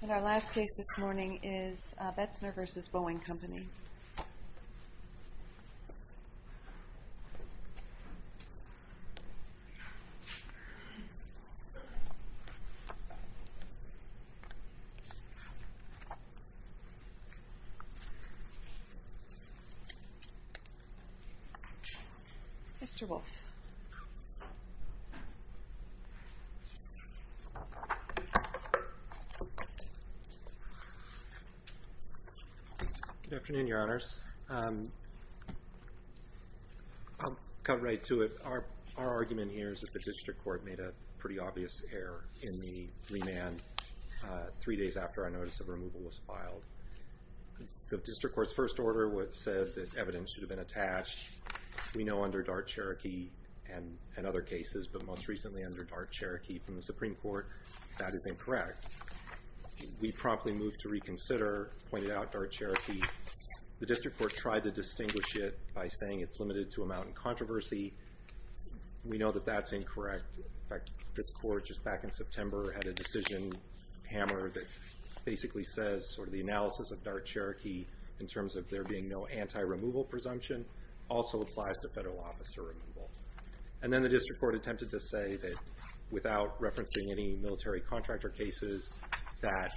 And our last case this morning is Betzner v. Boeing Company. Mr. Wolf. Good afternoon, Your Honors. I'll cut right to it. Our argument here is that the District Court made a pretty obvious error in the remand three days after our notice of removal was filed. The District Court's first order said that evidence should have been attached. We know under Dart-Cherokee and other cases, but most recently under Dart-Cherokee from the Supreme Court, that is incorrect. We promptly moved to reconsider, pointed out Dart-Cherokee. The District Court tried to distinguish it by saying it's limited to a mountain controversy. We know that that's incorrect. In fact, this Court just back in September had a decision hammer that basically says sort of the analysis of Dart-Cherokee in terms of there being no anti-removal presumption. Also applies to federal officer removal. And then the District Court attempted to say that without referencing any military contractor cases, that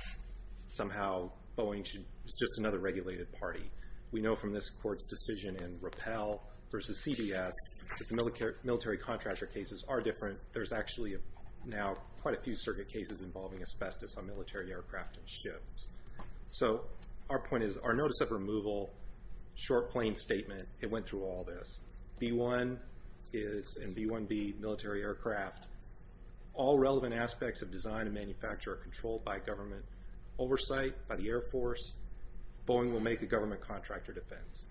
somehow Boeing is just another regulated party. We know from this Court's decision in Rappel v. CBS that the military contractor cases are different. There's actually now quite a few circuit cases involving asbestos on military aircraft and ships. So our point is, our notice of removal, short, plain statement, it went through all this. B-1 and B-1B military aircraft, all relevant aspects of design and manufacture are controlled by government oversight, by the Air Force. Boeing will make a government contractor defense.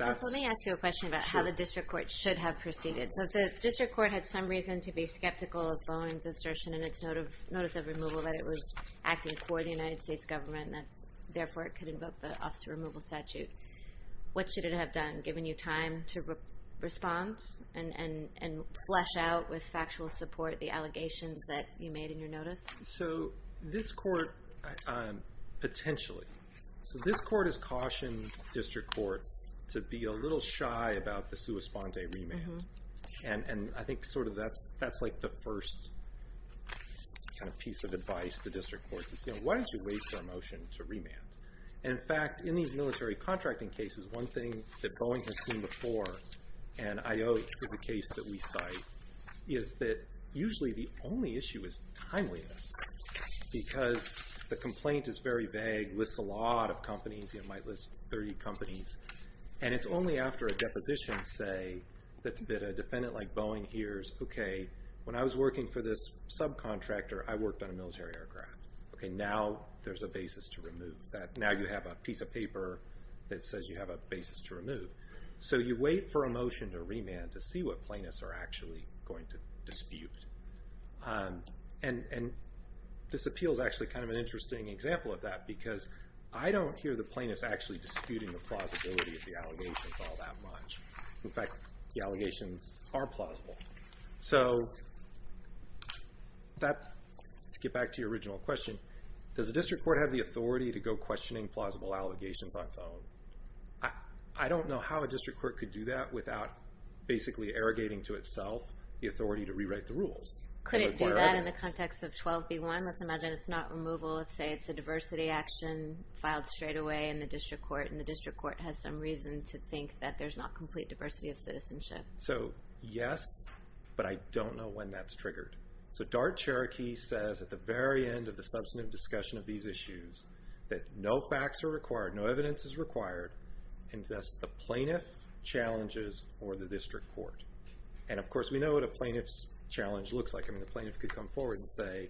Let me ask you a question about how the District Court should have proceeded. So if the District Court had some reason to be skeptical of Boeing's assertion in its notice of removal, that it was acting for the United States government and therefore it could invoke the officer removal statute, what should it have done? Given you time to respond and flesh out with factual support the allegations that you made in your notice? So this Court, potentially, this Court has cautioned District Courts to be a little shy about the sua sponde remand. And I think that's the first piece of advice to District Courts. Why don't you wait for a motion to remand? And in fact, in these military contracting cases, one thing that Boeing has seen before, and I know it's a case that we cite, is that usually the only issue is timeliness. Because the complaint is very vague, lists a lot of companies, it might list 30 companies. And it's only after a deposition, say, that a defendant like Boeing hears, okay, when I was working for this subcontractor, I worked on a military aircraft. Okay, now there's a basis to remove that. Now you have a piece of paper that says you have a basis to remove. So you wait for a motion to remand to see what plaintiffs are actually going to dispute. And this appeal is actually kind of an interesting example of that, because I don't hear the plaintiffs actually disputing the plausibility of the allegations all that much. In fact, the allegations are plausible. So let's get back to your original question. Does the District Court have the authority to go questioning plausible allegations on its own? I don't know how a District Court could do that without basically arrogating to itself the authority to rewrite the rules. Could it do that in the context of 12b-1? Let's imagine it's not removal. Let's say it's a diversity action filed straight away in the District Court, and the District Court has some reason to think that there's not complete diversity of citizenship. So yes, but I don't know when that's triggered. So DART Cherokee says at the very end of the substantive discussion of these issues that no facts are required, no evidence is required, and thus the plaintiff challenges or the District Court. And, of course, we know what a plaintiff's challenge looks like. I mean, the plaintiff could come forward and say,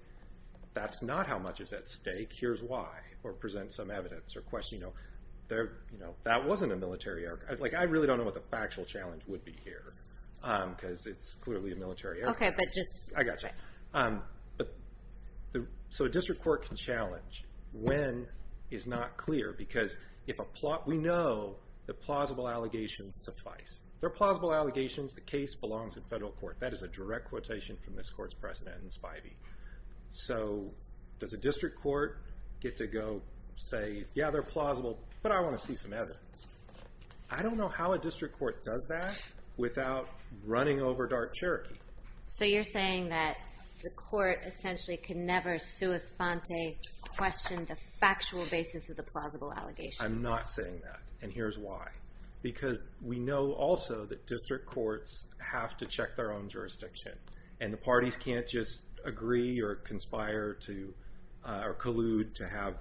that's not how much is at stake, here's why, or present some evidence or question. That wasn't a military error. I really don't know what the factual challenge would be here, because it's clearly a military error. Okay, but just... I got you. So a District Court can challenge when is not clear, because we know that plausible allegations suffice. They're plausible allegations. The case belongs in federal court. That is a direct quotation from this Court's precedent in Spivey. So does a District Court get to go say, yeah, they're plausible, but I want to see some evidence? I don't know how a District Court does that without running over DART Cherokee. So you're saying that the Court essentially can never sua sponte question the factual basis of the plausible allegations. I'm not saying that, and here's why. Because we know also that District Courts have to check their own jurisdiction, and the parties can't just agree or conspire to, or collude to have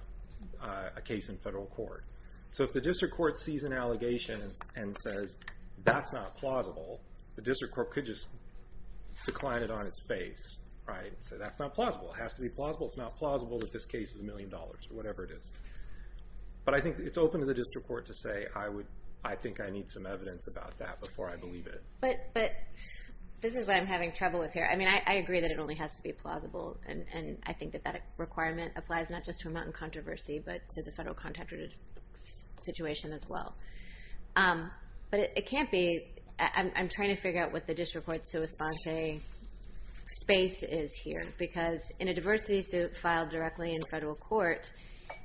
a case in federal court. So if the District Court sees an allegation and says, that's not plausible, the District Court could just decline it on its face, right, and say, that's not plausible. It has to be plausible. It's not plausible that this case is a million dollars, or whatever it is. But I think it's open to the District Court to say, I think I need some evidence about that before I believe it. But this is what I'm having trouble with here. I mean, I agree that it only has to be plausible, and I think that that requirement applies not just to a mountain controversy, but to the federal contractor situation as well. But it can't be. I'm trying to figure out what the District Court's so-esponse space is here. Because in a diversity suit filed directly in federal court,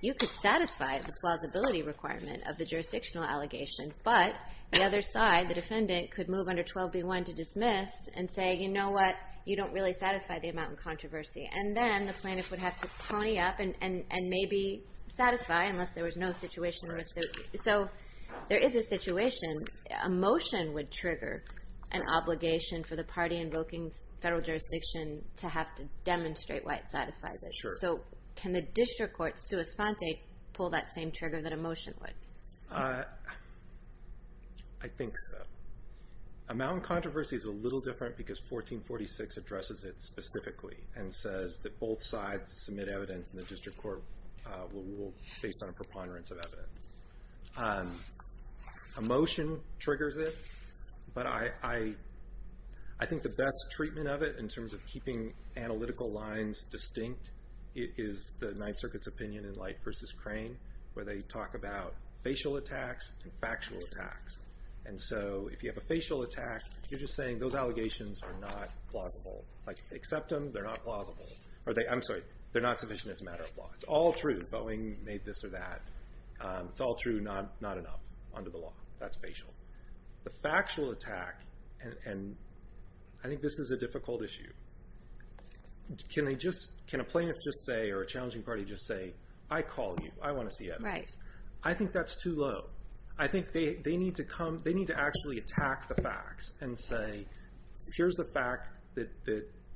you could satisfy the plausibility requirement of the jurisdictional allegation, but the other side, the defendant, could move under 12b-1 to dismiss and say, you know what, you don't really satisfy the amount in controversy. And then the plaintiff would have to pony up and maybe satisfy, unless there was no situation in which there was. So there is a situation. A motion would trigger an obligation for the party invoking federal jurisdiction to have to demonstrate why it satisfies it. So can the District Court, sua sponte, pull that same trigger that a motion would? I think so. A mountain controversy is a little different because 1446 addresses it specifically and says that both sides submit evidence, and the District Court will rule based on a preponderance of evidence. A motion triggers it, but I think the best treatment of it in terms of keeping analytical lines distinct is the Ninth Circuit's opinion in Light v. Crane, where they talk about facial attacks and factual attacks. And so if you have a facial attack, you're just saying those allegations are not plausible. Like, accept them, they're not plausible. I'm sorry, they're not sufficient as a matter of law. It's all true, Boeing made this or that. It's all true, not enough under the law. That's facial. The factual attack, and I think this is a difficult issue. Can a plaintiff just say or a challenging party just say, I call you, I want to see evidence. I think that's too low. I think they need to actually attack the facts and say, here's the fact that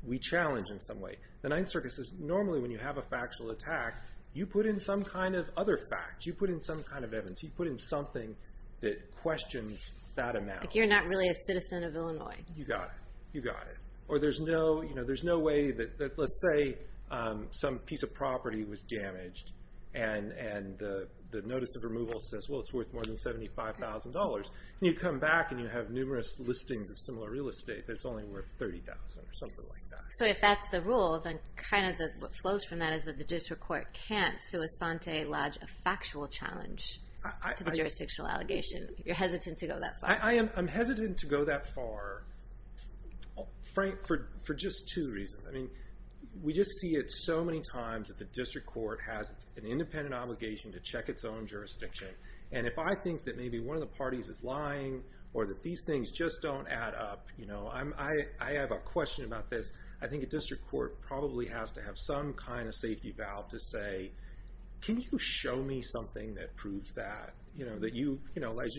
we challenge in some way. The Ninth Circuit says, normally when you have a factual attack, you put in some kind of other fact. You put in some kind of evidence. You put in something that questions that amount. Like, you're not really a citizen of Illinois. You got it. You got it. Or there's no way that, let's say, some piece of property was damaged, and the notice of removal says, well, it's worth more than $75,000. You come back and you have numerous listings of similar real estate that's only worth $30,000 or something like that. So if that's the rule, then kind of what flows from that is that the district court can't sua sponte lodge a factual challenge to the jurisdictional allegation. You're hesitant to go that far. I'm hesitant to go that far for just two reasons. I mean, we just see it so many times that the district court has an independent obligation to check its own jurisdiction. And if I think that maybe one of the parties is lying or that these things just don't add up, I have a question about this. I think a district court probably has to have some kind of safety valve to say, can you show me something that proves that? As you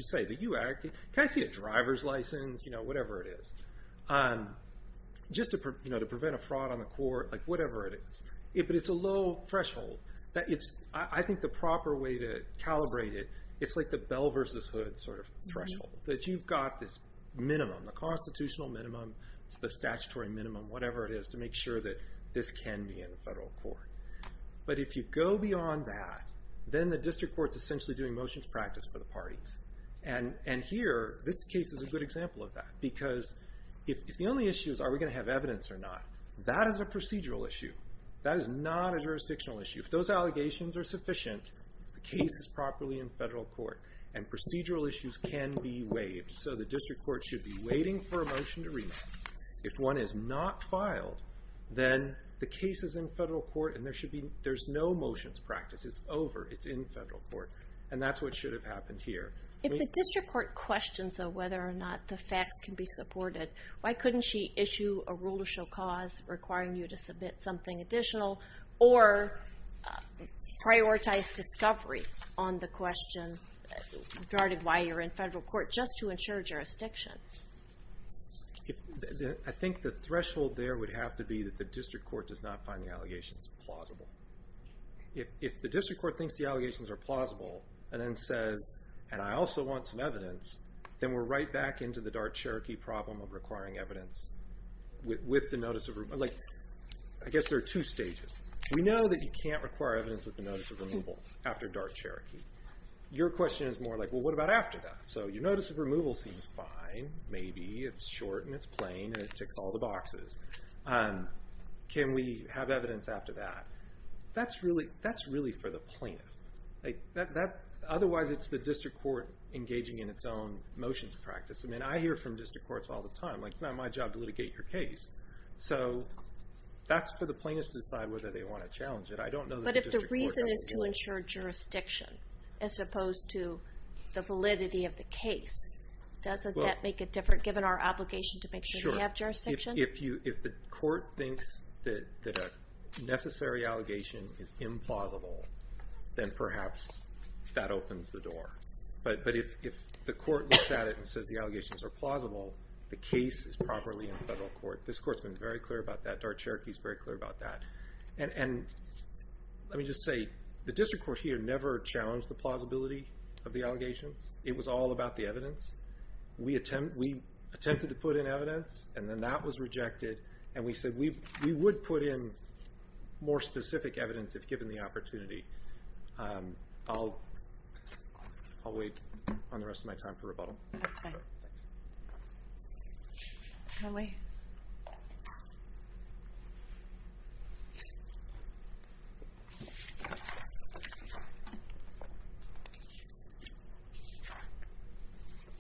say, can I see a driver's license? Whatever it is. Just to prevent a fraud on the court. Whatever it is. But it's a low threshold. I think the proper way to calibrate it, it's like the bell versus hood sort of threshold. That you've got this minimum, the constitutional minimum, the statutory minimum, whatever it is, to make sure that this can be in the federal court. But if you go beyond that, then the district court's essentially doing motions practice for the parties. And here, this case is a good example of that. Because if the only issue is are we going to have evidence or not, that is a procedural issue. That is not a jurisdictional issue. If those allegations are sufficient, the case is properly in federal court. And procedural issues can be waived. So the district court should be waiting for a motion to remand. If one is not filed, then the case is in federal court and there's no motions practice. It's over. It's in federal court. And that's what should have happened here. If the district court questions whether or not the facts can be supported, why couldn't she issue a rule to show cause requiring you to submit something additional, or prioritize discovery on the question regarding why you're in federal court just to ensure jurisdiction? I think the threshold there would have to be that the district court does not find the allegations plausible. If the district court thinks the allegations are plausible and then says, and I also want some evidence, then we're right back into the dark Cherokee problem of requiring evidence with the notice of removal. I guess there are two stages. We know that you can't require evidence with the notice of removal after dark Cherokee. Your question is more like, well, what about after that? So your notice of removal seems fine. Maybe it's short and it's plain and it ticks all the boxes. Can we have evidence after that? That's really for the plaintiff. Otherwise it's the district court engaging in its own motions practice. I hear from district courts all the time, like it's not my job to litigate your case. So that's for the plaintiffs to decide whether they want to challenge it. I don't know that the district court has a rule. But if the reason is to ensure jurisdiction as opposed to the validity of the case, doesn't that make it different, given our obligation to make sure we have jurisdiction? If the court thinks that a necessary allegation is implausible, then perhaps that opens the door. But if the court looks at it and says the allegations are plausible, the case is properly in federal court. This court has been very clear about that. Dark Cherokee is very clear about that. And let me just say, the district court here never challenged the plausibility of the allegations. It was all about the evidence. We attempted to put in evidence, and then that was rejected. And we said we would put in more specific evidence if given the opportunity. I'll wait on the rest of my time for rebuttal. That's fine.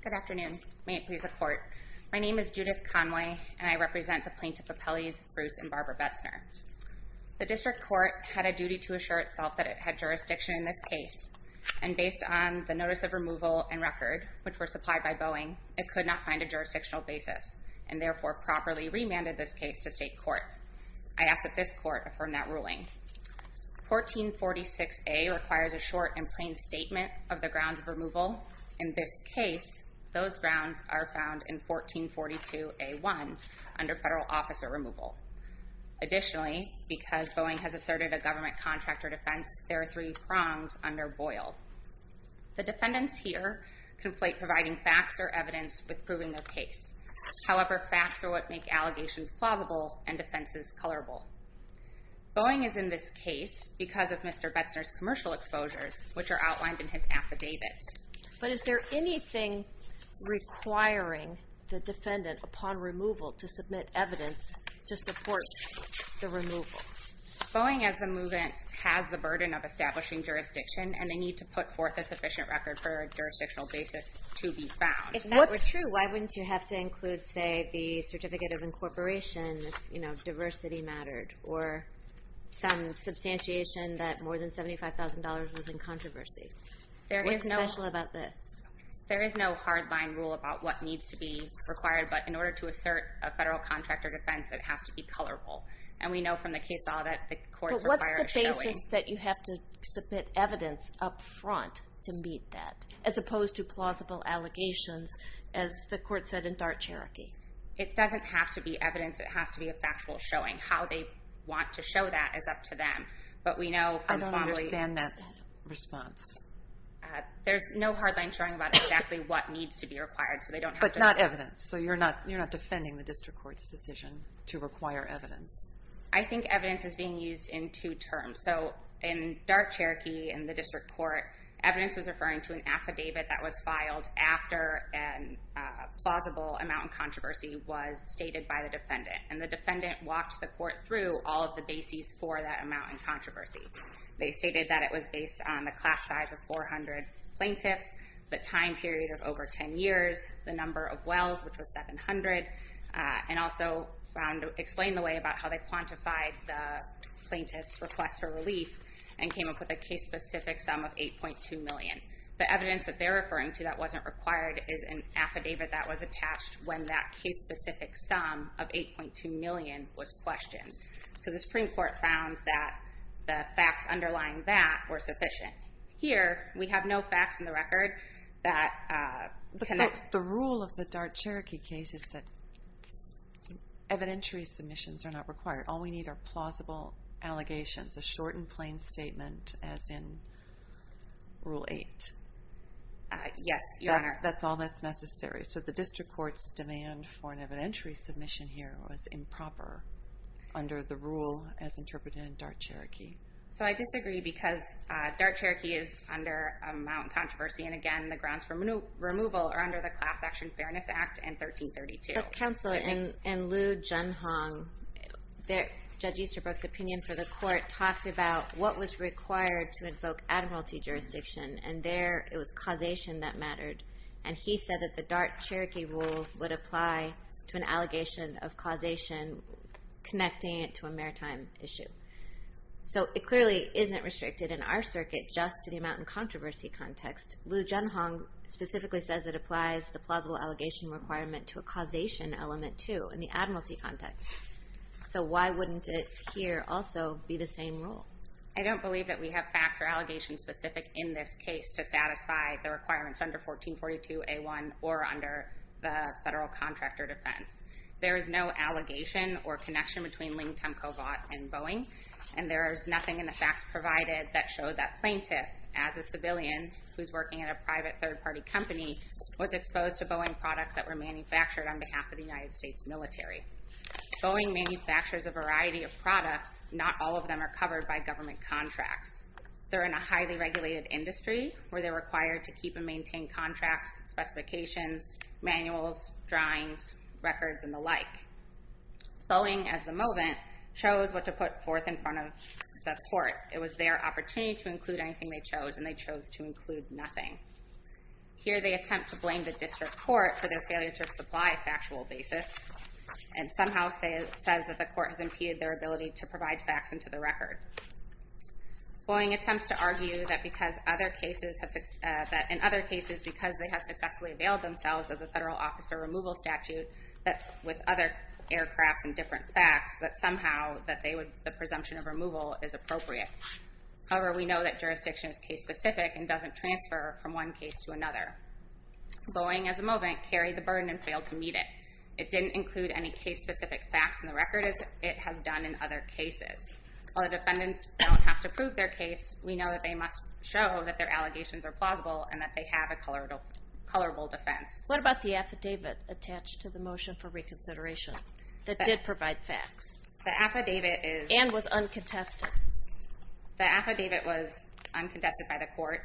Good afternoon. May it please the court. My name is Judith Conway, and I represent the plaintiff appellees Bruce and Barbara Betzner. The district court had a duty to assure itself that it had jurisdiction in this case. And based on the notice of removal and record, which were supplied by Boeing, it could not find a jurisdictional basis, and therefore properly remanded this case to state court. I ask that this court affirm that ruling. 1446A requires a short and plain statement of the grounds of removal. In this case, those grounds are found in 1442A1, under federal officer removal. Additionally, because Boeing has asserted a government contract or defense, there are three prongs under Boyle. The defendants here conflate providing facts or evidence with proving their case. However, facts are what make allegations plausible and defenses colorable. Boeing is in this case because of Mr. Betzner's commercial exposures, which are outlined in his affidavit. But is there anything requiring the defendant, upon removal, to submit evidence to support the removal? Boeing, as the movement, has the burden of establishing jurisdiction, and they need to put forth a sufficient record for a jurisdictional basis to be found. If that were true, why wouldn't you have to include, say, the certificate of incorporation if diversity mattered, or some substantiation that more than $75,000 was in controversy? What's special about this? There is no hard-line rule about what needs to be required. But in order to assert a federal contract or defense, it has to be colorable. And we know from the case law that the courts require a showing. But what's the basis that you have to submit evidence up front to meet that, as opposed to plausible allegations, as the court said in DART-Cherokee? It doesn't have to be evidence. It has to be a factual showing. How they want to show that is up to them. But we know from formally— I don't understand that response. There's no hard-line showing about exactly what needs to be required, so they don't have to— But not evidence. So you're not defending the district court's decision to require evidence. I think evidence is being used in two terms. So in DART-Cherokee in the district court, evidence was referring to an affidavit that was filed after a plausible amount in controversy was stated by the defendant. And the defendant walked the court through all of the bases for that amount in controversy. They stated that it was based on the class size of 400 plaintiffs, the time period of over 10 years, the number of wells, which was 700, and also explained the way about how they quantified the plaintiff's request for relief and came up with a case-specific sum of $8.2 million. The evidence that they're referring to that wasn't required is an affidavit that was attached when that case-specific sum of $8.2 million was questioned. So the Supreme Court found that the facts underlying that were sufficient. Here, we have no facts in the record that connect. The rule of the DART-Cherokee case is that evidentiary submissions are not required. All we need are plausible allegations, a short and plain statement as in Rule 8. Yes, Your Honor. That's all that's necessary. So the district court's demand for an evidentiary submission here was improper under the rule as interpreted in DART-Cherokee. So I disagree because DART-Cherokee is under a mountain controversy, and, again, the grounds for removal are under the Class Action Fairness Act and 1332. But, Counsel, in Liu Junhong, Judge Easterbrook's opinion for the court talked about what was required to invoke admiralty jurisdiction, and there it was causation that mattered. And he said that the DART-Cherokee rule would apply to an allegation of causation connecting it to a maritime issue. So it clearly isn't restricted in our circuit just to the mountain controversy context. Liu Junhong specifically says it applies the plausible allegation requirement to a causation element, too, in the admiralty context. So why wouldn't it here also be the same rule? I don't believe that we have facts or allegations specific in this case to satisfy the requirements under 1442A1 or under the federal contractor defense. There is no allegation or connection between Ling Tumcovot and Boeing, and there is nothing in the facts provided that show that Plaintiff, as a civilian who's working at a private third-party company, was exposed to Boeing products that were manufactured on behalf of the United States military. Boeing manufactures a variety of products. Not all of them are covered by government contracts. They're in a highly regulated industry where they're required to keep and maintain contracts, specifications, manuals, drawings, records, and the like. Boeing, at the moment, chose what to put forth in front of the court. It was their opportunity to include anything they chose, and they chose to include nothing. Here they attempt to blame the district court for their failure to supply a factual basis and somehow says that the court has impeded their ability to provide facts into the record. Boeing attempts to argue that in other cases, because they have successfully availed themselves of the federal officer removal statute with other aircrafts and different facts, that somehow the presumption of removal is appropriate. However, we know that jurisdiction is case-specific and doesn't transfer from one case to another. Boeing, as a moment, carried the burden and failed to meet it. It didn't include any case-specific facts in the record as it has done in other cases. While the defendants don't have to prove their case, we know that they must show that their allegations are plausible and that they have a colorable defense. What about the affidavit attached to the motion for reconsideration that did provide facts and was uncontested? The affidavit was uncontested by the court.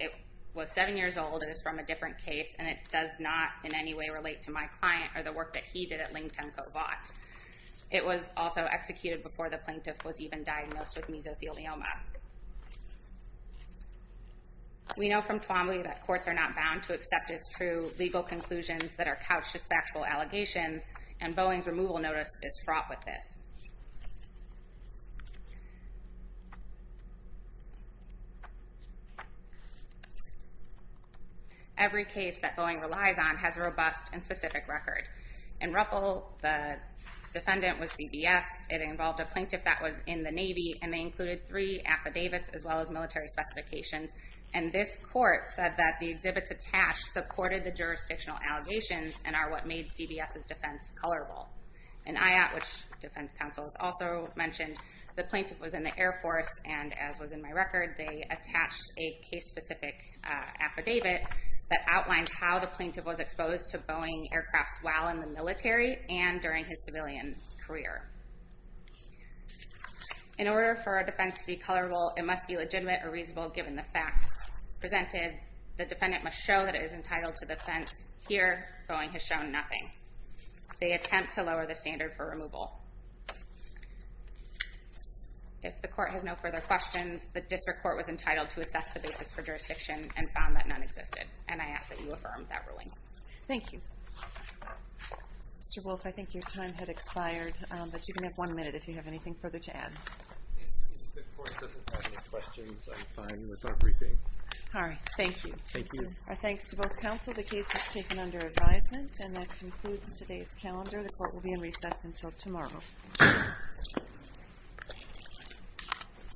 It was seven years old. It was from a different case, and it does not in any way relate to my client or the work that he did at Ling-Temco Vought. It was also executed before the plaintiff was even diagnosed with mesothelioma. We know from Twombly that courts are not bound to accept as true legal conclusions that are couched as factual allegations, and Boeing's removal notice is fraught with this. Every case that Boeing relies on has a robust and specific record. In Ruppel, the defendant was CBS. It involved a plaintiff that was in the Navy, and they included three affidavits as well as military specifications. And this court said that the exhibits attached supported the jurisdictional allegations and are what made CBS's defense colorable. In IAT, which Defense Counsel has also mentioned, the plaintiff was in the Air Force, and as was in my record, they attached a case-specific affidavit that outlined how the plaintiff was exposed to Boeing aircrafts while in the military and during his civilian career. In order for a defense to be colorable, it must be legitimate or reasonable given the facts presented. The defendant must show that it is entitled to the defense. Here, Boeing has shown nothing. They attempt to lower the standard for removal. If the court has no further questions, the district court was entitled to assess the basis for jurisdiction and found that none existed, and I ask that you affirm that ruling. Thank you. Mr. Wolf, I think your time had expired, but you can have one minute if you have anything further to add. If the court doesn't have any questions, I'm fine with our briefing. All right. Thank you. Thank you. Our thanks to both counsel. The case is taken under advisement, and that concludes today's calendar. The court will be in recess until tomorrow.